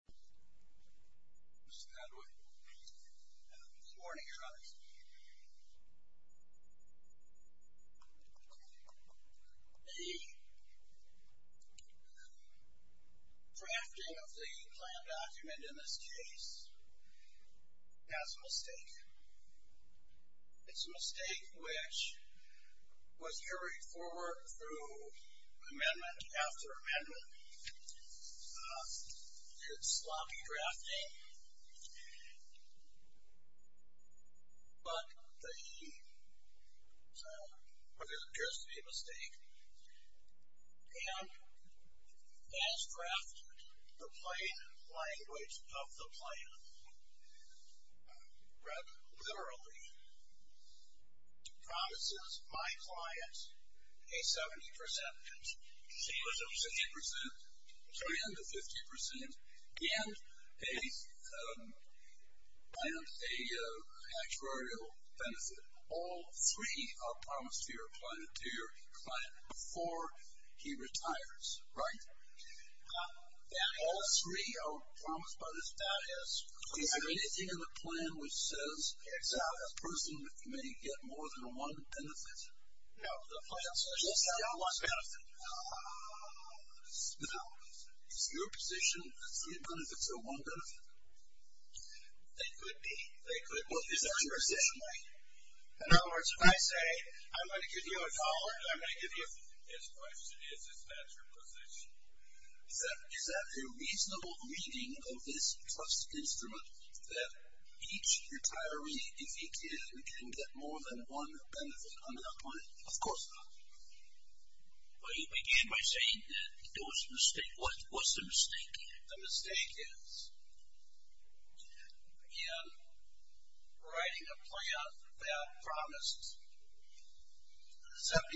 The drafting of the plan document in this case has a mistake. It's a mistake which was carried forward through amendment after amendment. It's sloppy drafting, but there appears to be a mistake. And, as drafted, the plain language of the plan, read literally, promises my client a 70% savings of 50% and a actuarial benefit. All three are promised to your client before he retires, right? All three are promised by this plan. Is there anything in the plan which says that a person may get more than one benefit? No, the plan says they'll get one benefit. Is your position that three benefits are one benefit? They could be. Well, is that your position, Mike? In other words, if I say, I'm going to give you a dollar, I'm going to give you a... His question is, is that your position? Is that a reasonable reading of this trust instrument that each retiree, if he can, can get more than one benefit on that plan? Of course not. Well, you began by saying that there was a mistake. What's the mistake? The mistake is, again, writing a plan that promised a 70%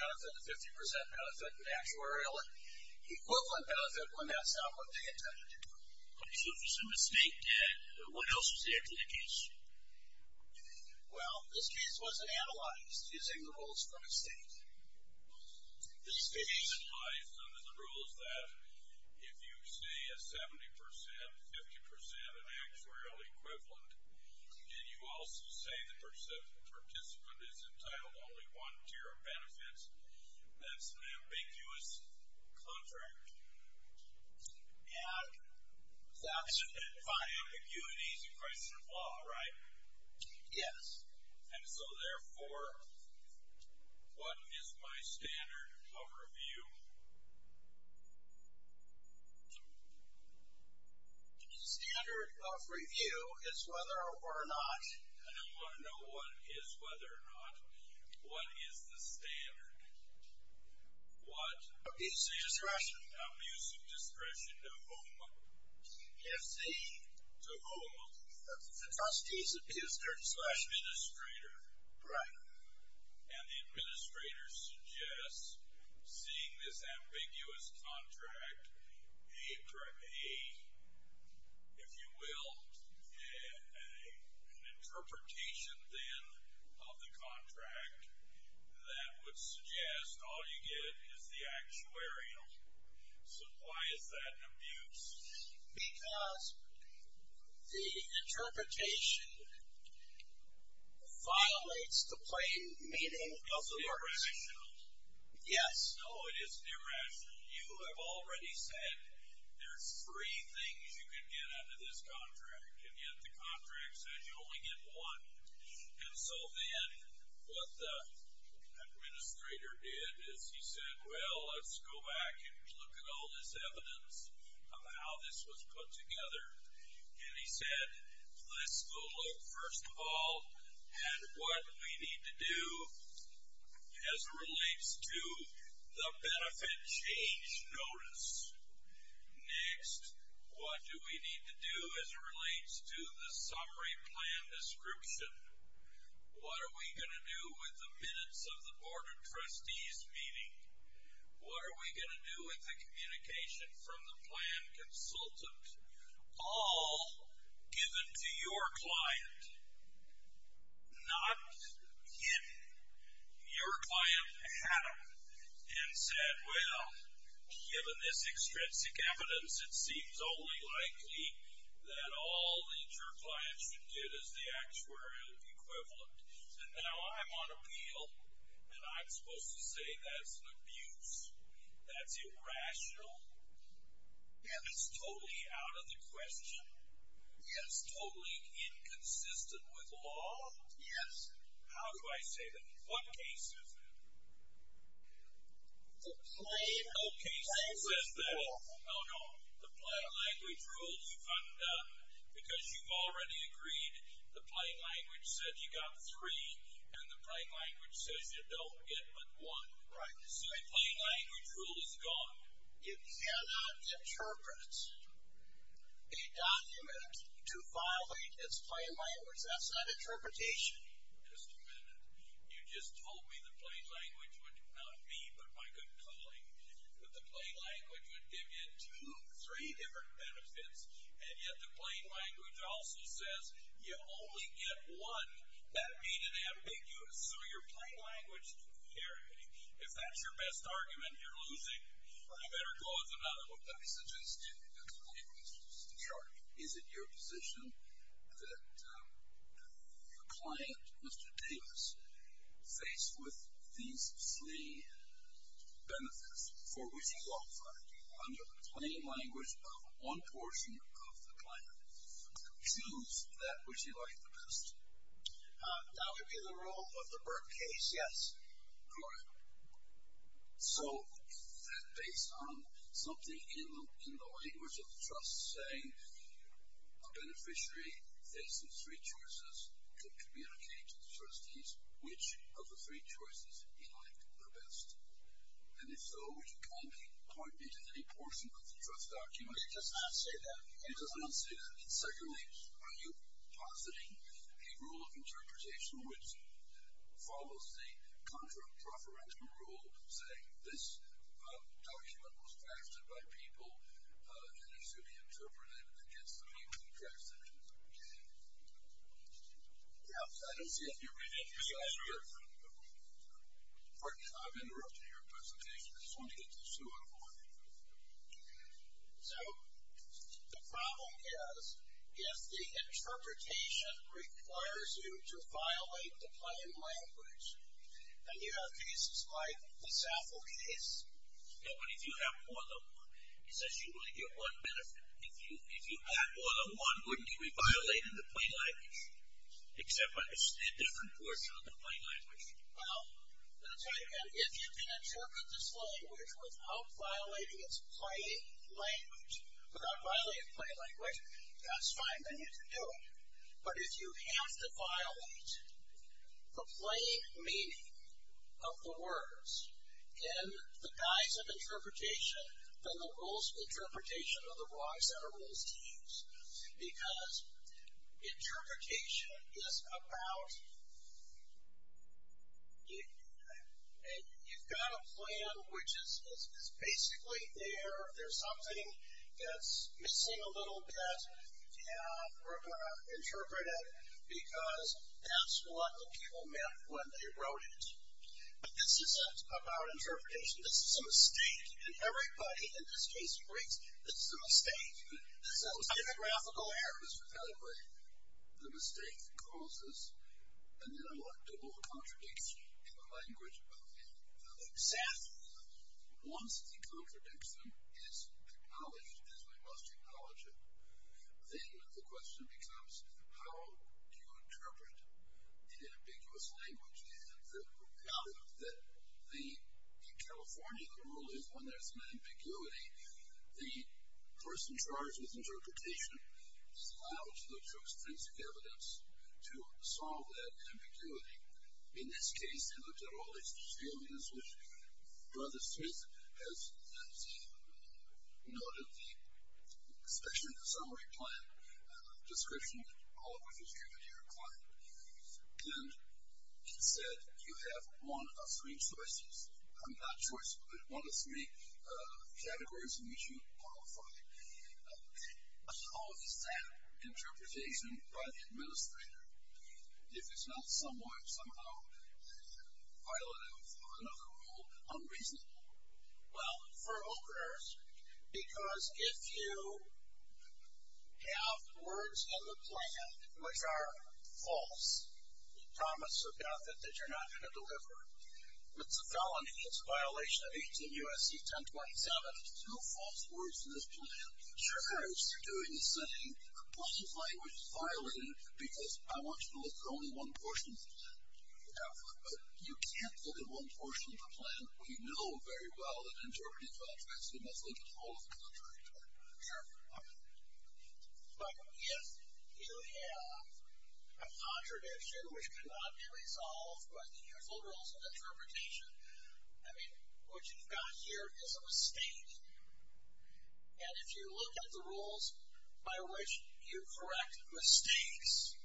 benefit, a 50% benefit, an actuarial equivalent benefit when that's not what they intended. So if it's a mistake, then what else is there to the case? Well, this case wasn't analyzed using the rules for mistake. The reason why it's under the rules is that if you say a 70%, 50%, an actuarial equivalent, and you also say the participant is entitled to only one tier of benefits, that's an ambiguous contract. And that's fine. And by ambiguity is a crisis of law, right? Yes. And so, therefore, what is my standard of review? Standard of review is whether or not... I don't want to know what is whether or not. What is the standard? What... Abuse of discretion. Abuse of discretion to whom? If the... To whom? The trustee's abuser. Administrator. Right. And the administrator suggests seeing this ambiguous contract, if you will, an interpretation then of the contract that would suggest all you get is the actuarial. So why is that an abuse? Because the interpretation violates the plain meaning of the words. It's irrational. Yes. No, it isn't irrational. You have already said there's three things you can get out of this contract, and yet the contract says you only get one. And so then what the administrator did is he said, well, let's go back and look at all this evidence of how this was put together. And he said, let's go look, first of all, at what we need to do as it relates to the benefit change notice. Next, what do we need to do as it relates to the summary plan description? What are we going to do with the minutes of the board of trustees meeting? What are we going to do with the communication from the plan consultant? All given to your client. Not him. Your client had them and said, well, given this extrinsic evidence, it seems only likely that all that your client should get is the actuarial equivalent. And now I'm on appeal, and I'm supposed to say that's an abuse? That's irrational? And it's totally out of the question? Yes. Totally inconsistent with law? Yes. How do I say that? What case is that? The plain language rule. No, no. The plain language rule is undone because you've already agreed. The plain language said you got three, and the plain language says you don't get but one. Right. So the plain language rule is gone. You cannot interpret a document to violate its plain language. That's not interpretation. Just a minute. You just told me the plain language would not be, but my good colleague, that the plain language would give you two, three different benefits, and yet the plain language also says you only get one. That made it ambiguous. So your plain language theory, if that's your best argument, you're losing. You better go with another one. Let me suggest you explain this to Mr. Sharp. Is it your position that the client, Mr. Davis, faced with these three benefits, for which he qualified under the plain language of one portion of the client, would choose that which he liked the best? That would be the rule of the Burke case, yes. Correct. So based on something in the language of the trust saying a beneficiary facing three choices could communicate to the trustees which of the three choices he liked the best, and if so, you can't point me to any portion of the trust document. It does not say that. It does not say that. And secondly, are you positing a rule of interpretation which follows the contra-preferential rule, saying this document was faxed in by people and is to be interpreted against the people who faxed it in? Yeah. I don't see if you're reading yourself here. Pardon me. I'm interrupting your presentation. I just wanted to get this to a point. So the problem is if the interpretation requires you to violate the plain language, and you have cases like the Zaffel case. Yeah, but if you have more than one, it says you only get one benefit. If you had more than one, wouldn't you be violating the plain language, except by a different portion of the plain language? Well, I'm going to tell you again, if you can interpret this language without violating its plain language, without violating plain language, that's fine, then you can do it. But if you have to violate the plain meaning of the words in the guise of interpretation, then the rules of interpretation are the wrong set of rules to use. Because interpretation is about you've got a plan which is basically there, there's something that's missing a little bit, and we're going to interpret it because that's what the people meant when they wrote it. But this isn't about interpretation. This is a mistake. This is a typographical error. The mistake causes an ineluctable contradiction in the language of the Zaffel. Once the contradiction is acknowledged, as we must acknowledge it, then the question becomes how do you interpret an ambiguous language? And the reality is that in California, the rule is when there's an ambiguity, the person charged with interpretation is allowed to look for extrinsic evidence to solve that ambiguity. In this case, they looked at all these alias, which Brother Smith has noted the special summary plan description, all of which is given to your client. And he said, you have one of three choices. I'm not choice, but one of three categories in which you qualify. How is that interpretation by the administrator if it's not somehow violative of another rule, unreasonable? Well, for openers, because if you have words in the plan which are false, promise of God that you're not going to deliver. It's a felony. It's a violation of 18 U.S.C. 1027. No false words in this plan. Of course, you're doing the same. What if language is violated? Because I want you to look for only one portion of the plan. But you can't look at one portion of the plan. We know very well that interpreting contracts, we must look at all of them. Sure. But if you have a contradiction which cannot be resolved by the usual rules of interpretation, I mean, what you've got here is a mistake. And if you look at the rules by which you correct mistakes,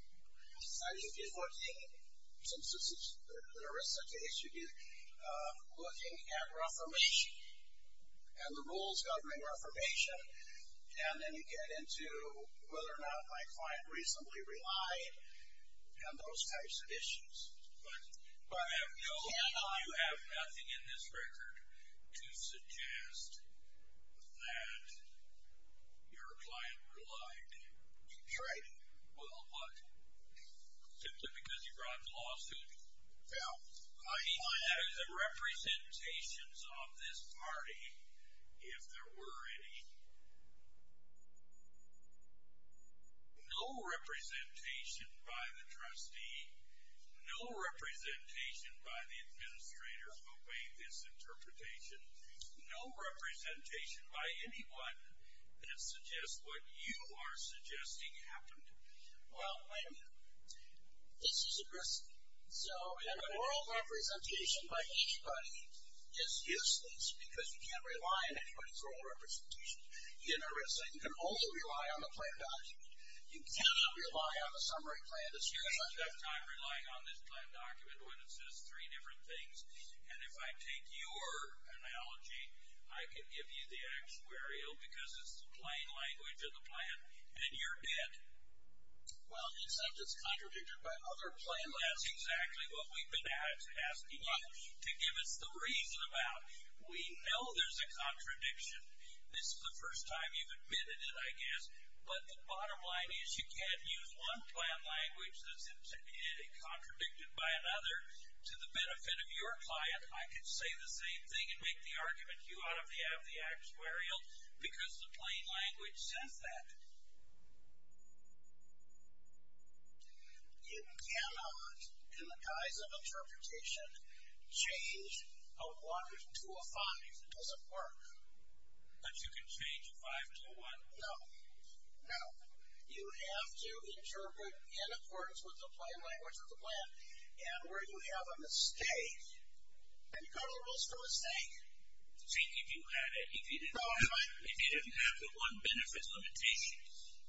1914, since there is such a case, you get looking at Reformation and the rules governing Reformation, and then you get into whether or not my client reasonably relied and those types of issues. But I know you have nothing in this record to suggest that your client relied. That's right. Well, what? Simply because you brought a lawsuit? Yeah. I mean, look at the representations of this party, if there were any. No representation by the trustee, no representation by the administrator who made this interpretation, no representation by anyone that suggests what you are suggesting happened. Well, this is a risk. So an oral representation by anybody is useless because you can't rely on anybody's oral representation. You're at a risk. You can only rely on the plan document. You cannot rely on the summary plan. You don't have time relying on this plan document when it says three different things. And if I take your analogy, I can give you the actuarial because it's the plain language of the plan, and you're dead. Well, except it's contradicted by another plan. That's exactly what we've been asking you to give us the reason about. We know there's a contradiction. This is the first time you've admitted it, I guess. But the bottom line is you can't use one plan language that's contradicted by another to the benefit of your client. I could say the same thing and make the argument you ought to have the actuarial because the plain language says that. You cannot, in the guise of interpretation, change a 1 to a 5. It doesn't work. But you can change a 5 to a 1? No. You have to interpret in accordance with the plain language of the plan. And where you have a mistake, and you call the rules for a mistake? I think if you didn't have the one benefit limitation,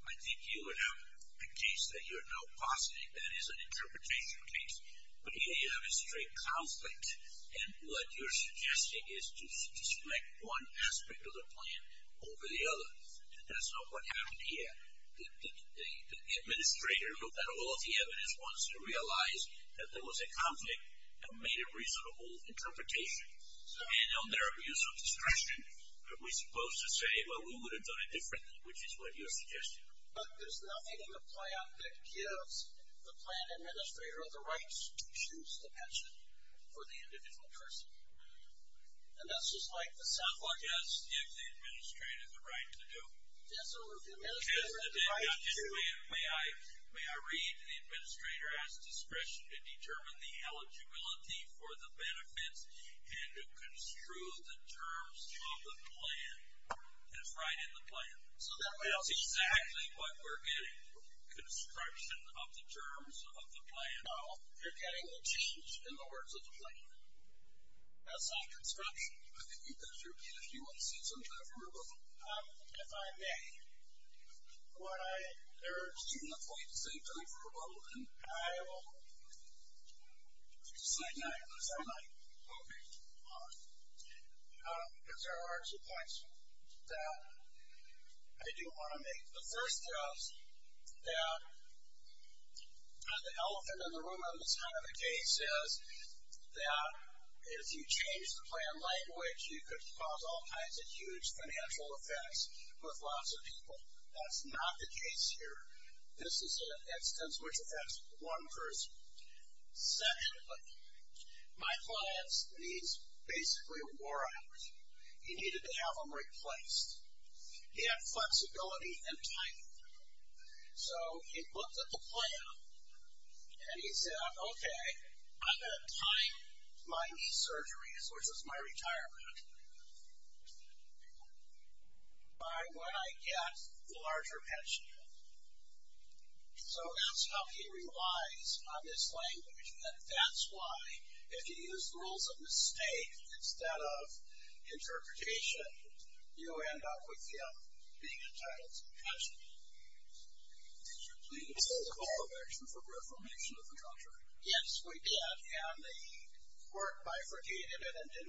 I think you would have a case that you're now positing that is an interpretation case. But here you have a straight conflict, and what you're suggesting is to select one aspect of the plan over the other. That's not what happened here. The administrator looked at all of the evidence once and realized that there was a conflict and made a reasonable interpretation. And on their abuse of discretion, we're supposed to say, well, we would have done it differently, which is what you're suggesting. But there's nothing in the plan that gives the plan administrator the rights to choose the pension for the individual person. And that's just like the South Lawn. Yes, if the administrator had the right to do it. Yes, sir. If the administrator had the right to. May I read? The administrator has discretion to determine the eligibility for the benefits and to construe the terms of the plan. That's right in the plan. That's exactly what we're getting, construction of the terms of the plan. No, you're getting the change in the words of the plan. That's not construction. I think you can repeat if you want to say something to that group. If I may, what I urge you not to say to that group, and I will decide not to. Okay. Because there are two points that I do want to make. The first is that the elephant in the room in this kind of a case is that if you change the plan language, you could cause all kinds of huge financial effects with lots of people. That's not the case here. This is an instance which affects one person. Secondly, my client's needs basically wore out. He needed to have them replaced. He had flexibility and time. So he looked at the plan, and he said, okay, I'm going to time my knee surgeries, which is my retirement, by when I get the larger pension. So that's how he relies on this language, and that's why if you use rules of mistake instead of interpretation, did you please call for reformation of the contract? Yes, we did, and the court bifurcated it and did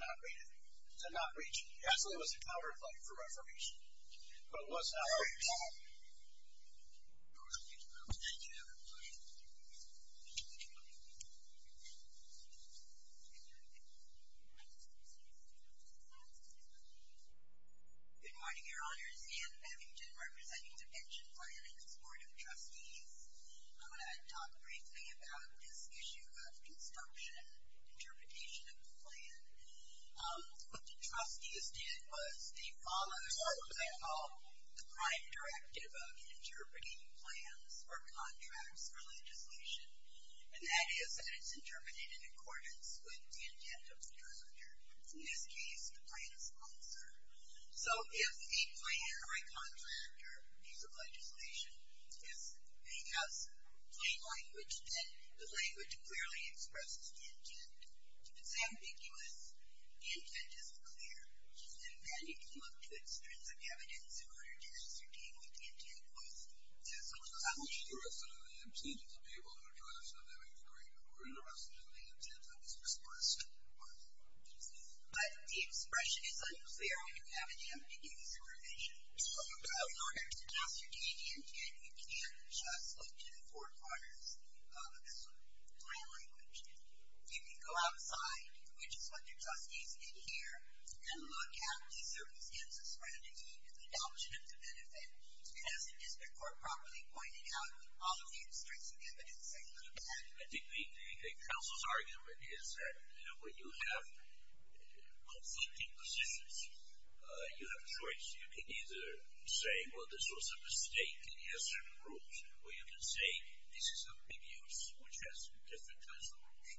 not reach it. Actually, it was a counterclaim for reformation, but it was not reached. All right. Thank you very much. Thank you. Good morning, Your Honors. Anne Bevington representing the Pension Plan and Supportive Trustees. I'm going to talk briefly about this issue of construction, interpretation of the plan. What the trustees did was they followed what they call the prime directive of contracts for legislation, and that is that it's interpreted in accordance with the intent of the presenter, in this case, the plan sponsor. So if a plan or a contract or piece of legislation has plain language, then the language clearly expresses the intent. If it's ambiguous, the intent isn't clear, and then you can look to extrinsic evidence in order to ascertain what the president intended to be able to address, whether it be the green card or the president's intent that was expressed. But the expression is unclear, and you haven't yet been given this information. So in order to ascertain the intent, you can't just look to the four corners of this plan language. You can go outside, which is what the trustees did here, and look at the circumstances surrounding the adoption of the benefit. And as the district court properly pointed out, all of the extrinsic evidence includes that. I think the council's argument is that when you have conflicting positions, you have a choice. You can either say, well, this was a mistake, and he has certain rules. Or you can say, this is ambiguous, which has different kinds of rules.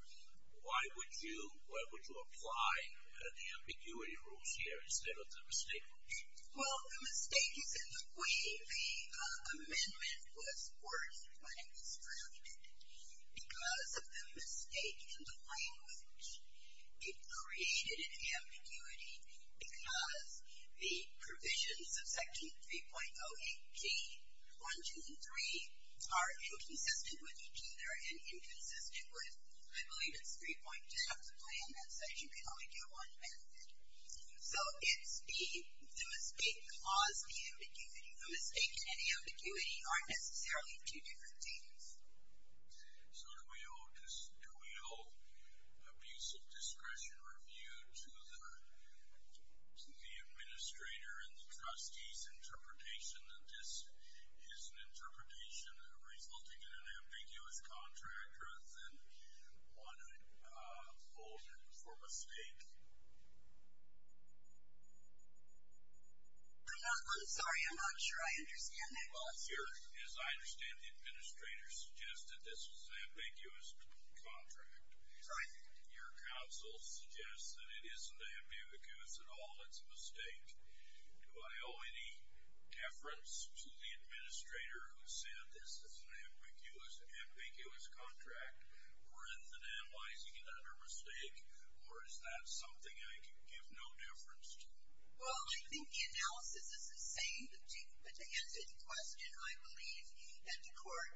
Why would you apply the ambiguity rules here instead of the mistake rules? Well, the mistake is in the way the amendment was forced when it was drafted. Because of the mistake in the language, it created an ambiguity, because the provisions of Section 3.08G, 1, 2, and 3, are inconsistent with each other and inconsistent with, I believe, it's 3.10 of the plan that says you can only get one benefit. So it's the mistake caused the ambiguity. The mistake and ambiguity aren't necessarily two different things. So do we owe abusive discretion review to the administrator and the trustee's interpretation that this is an interpretation resulting in an ambiguous contract rather than one holder for mistake? I'm sorry. I'm not sure I understand that. Well, as I understand, the administrator suggested this was an ambiguous contract. Your counsel suggests that it isn't ambiguous at all. It's a mistake. Do I owe any deference to the administrator who said this is an ambiguous, ambiguous contract rather than analyzing it under mistake? Or is that something I can give no deference to? Well, I think the analysis is the same, but to answer the question, I believe that the court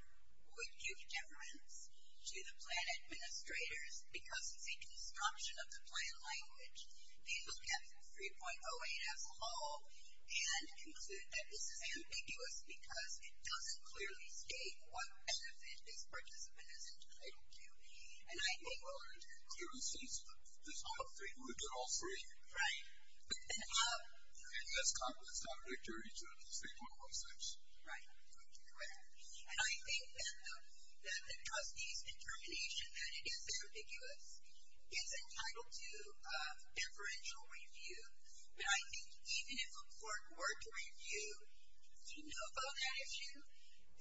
would give deference to the plan administrators because of the construction of the plan language. They look at 3.08 as a whole and consider that this is ambiguous because it doesn't clearly state what benefit this participant is entitled to. And I think we'll learn to do that. There are instances where this whole thing would get all three. Right. And that's common. It's not a victory. It's 3.06. Right. Correct. And I think that the trustee's determination that it is ambiguous is entitled to deferential review. And I think even if a court were to review to know about that issue,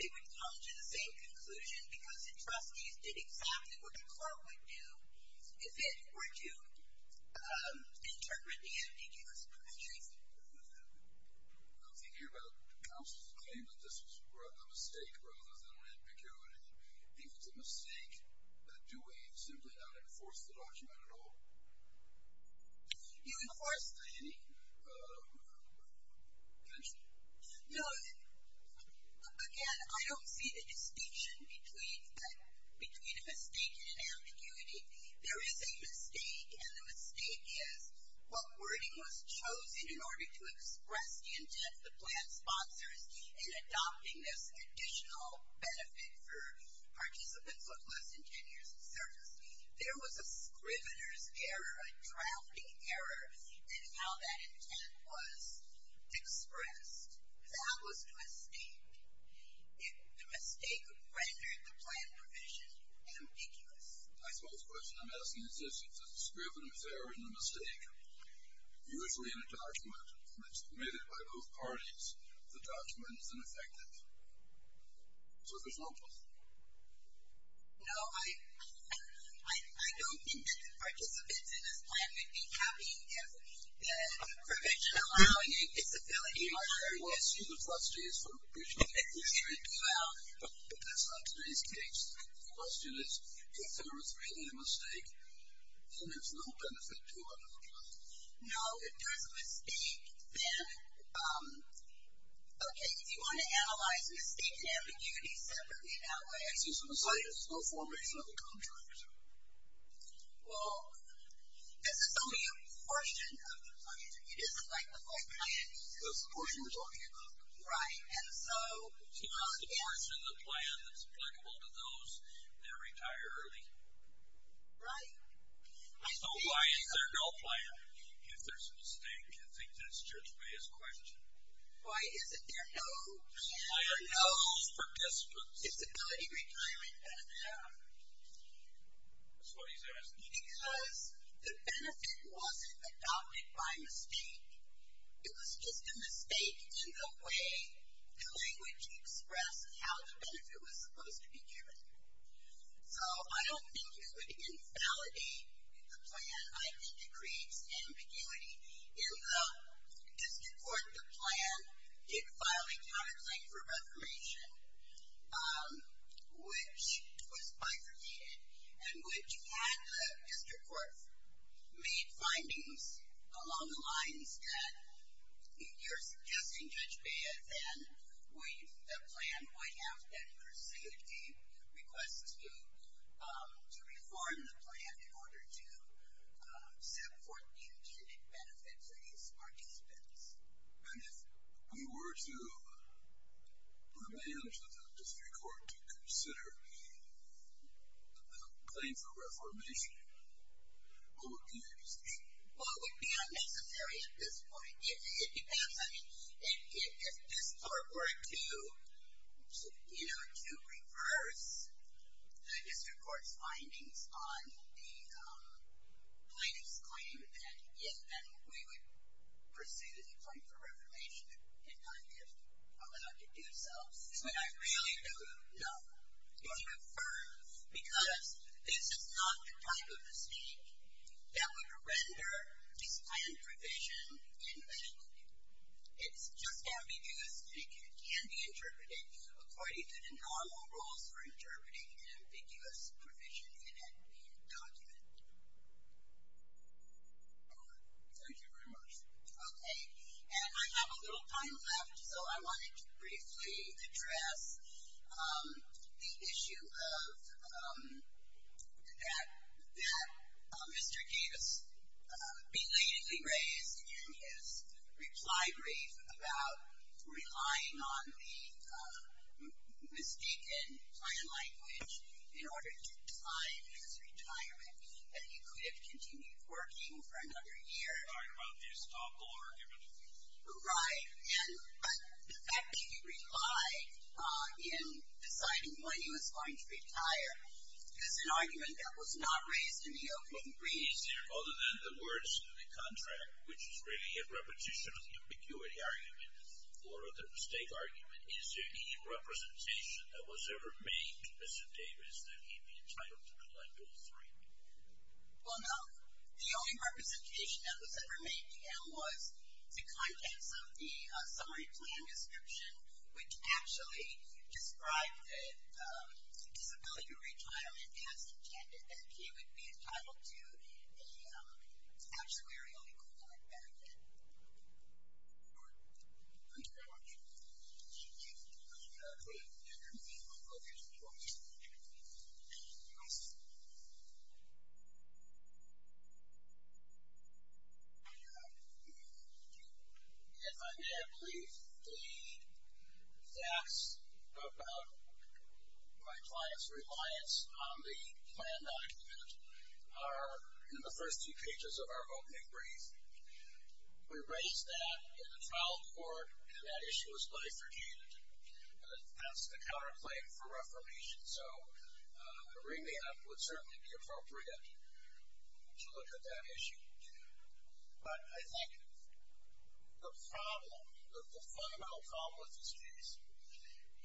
they would come to the same conclusion because the trustees did exactly what the court would do if it were to interpret the ambiguous contract. I'm thinking about counsel's claim that this was a mistake rather than ambiguity. I think it's a mistake. Do we simply not enforce the document at all? You enforce any? No. Again, I don't see the distinction between a mistake and an ambiguity. There is a mistake, and the mistake is what wording was chosen in order to express the intent of the plan sponsors in adopting this additional benefit for participants with less than ten years of service. There was a scrivener's error, a drafting error, in how that intent was expressed. That was the mistake. The mistake rendered the plan provision ambiguous. I suppose the question I'm asking is if it's a scrivener's error and the mistake, usually in a document that's submitted by both parties, the document is ineffective. So there's no both. No, I don't think the participants in this plan would be happy if the provision allowing it is a failure. Well, excuse the trustees for appreciating that. But that's not today's case. The question is if there was really a mistake, then there's no benefit to a new plan. No, if there's a mistake, then, okay, if you want to analyze a mistake and ambiguity separately, that way I see some assiduous reformation of the contract. Well, this is only a portion of the plan. It isn't like the whole plan. It's the portion we're talking about. Right, and so. It's not a portion of the plan that's applicable to those that retire early. Right? So why is there no plan if there's a mistake? I think that's Judge Bea's question. Why is it there no plan? Why are no participants? Disability retirement benefit? No. That's what he's asking. Because the benefit wasn't adopted by mistake. how the benefit was supposed to be given. So I don't think it would invalidate the plan. I think it creates ambiguity. In the district court, the plan did file a counterclaim for reformation, which was bifurcated, and which had the district court made findings along the lines that you're suggesting, Judge Bea, that then the plan would have to pursue a request to reform the plan in order to support the intended benefit for these participants. And if we were to put a ban into the district court to consider a claim for reformation, what would be the decision? Well, it would be unnecessary at this point. It depends. I mean, if this court were to reverse the district court's findings on the plaintiff's claim, then yes, then we would pursue the claim for reformation and not be allowed to do so. That's what I really don't know. It would be preferred, because this is not the type of mistake that would render this kind of provision invalid. It's just ambiguous, and it can be interpreted according to the normal rules for interpreting an ambiguous provision in a document. Thank you very much. Okay. And I have a little time left, so I wanted to briefly address the issue that Mr. Davis belatedly raised in his reply brief about relying on the mistaken plan language in order to time his retirement, that he could have continued working for another year. Right. And the fact that he replied in deciding when he was going to retire is an argument that was not raised in the opening brief. Is there, other than the words in the contract, which is really a repetition of the ambiguity argument or the mistake argument, is there any representation that was ever made to Mr. Davis that he'd be entitled to collect all three? Well, no. The only representation that was ever made to him was the contents of the summary plan description, which actually described disability retirement as intended, that he would be entitled to an actuarially qualified benefit. All right. Thank you very much. Put in your name and location for me. If I may, I believe the facts about my client's reliance on the plan document are in the first two pages of our opening brief. We raised that in the trial court, and that issue was life-forgiven. That's the counter-claim for reformation, so a remand would certainly be appropriate to look at that issue. But I think the problem, the fundamental problem with this case,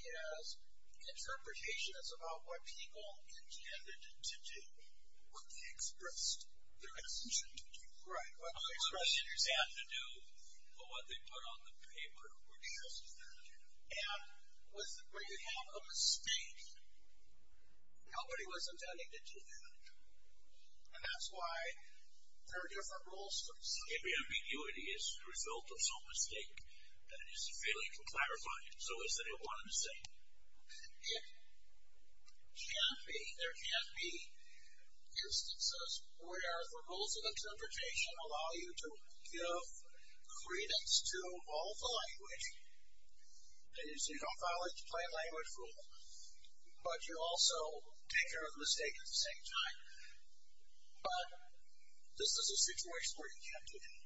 is interpretation is about what people intended to do, what they expressed their intention to do. Right. What they expressed their intent to do, but what they put on the paper were just that. And when you have a mistake, nobody was intending to do that. And that's why there are different rules for this. Maybe ambiguity is the result of some mistake that is failing to clarify it. So is there one mistake? It can be. There can be instances where the rules of interpretation allow you to give credence to all the language. You don't violate the plain language rule, but you also take care of the mistake at the same time. But this is a situation where you can't do that.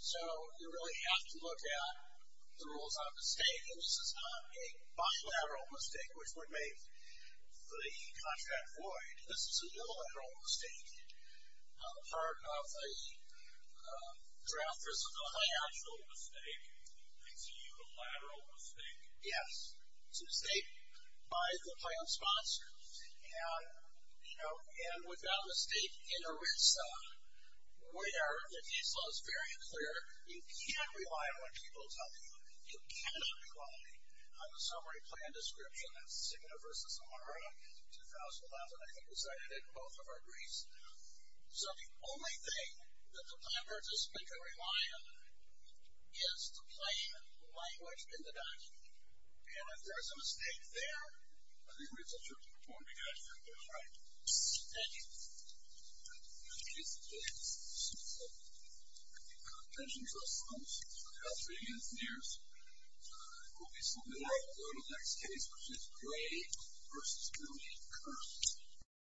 So you really have to look at the rules of the state. This is not a bilateral mistake, which would make the contract void. This is a unilateral mistake on the part of the drafters of the plan. Unilateral mistake. It's a unilateral mistake. Yes. It's a mistake by the plan sponsors. You know, and without a state inter-risa, where the ISIL is very clear, you can't rely on what people tell you. You cannot rely on the summary plan description. That's Cigna versus Amara, 2011. I think we cited it in both of our briefs. So the only thing that the plan participants can rely on is the plain language in the document. And if there is a mistake there, I think we should certainly afford to get externals right. Thank you. Thank you. I appreciate it. This is self-explanatory. Attention to ourselves, citizens of the country and your peers. We'll be still there after the next case, which is Gray versus Muheed Kirk.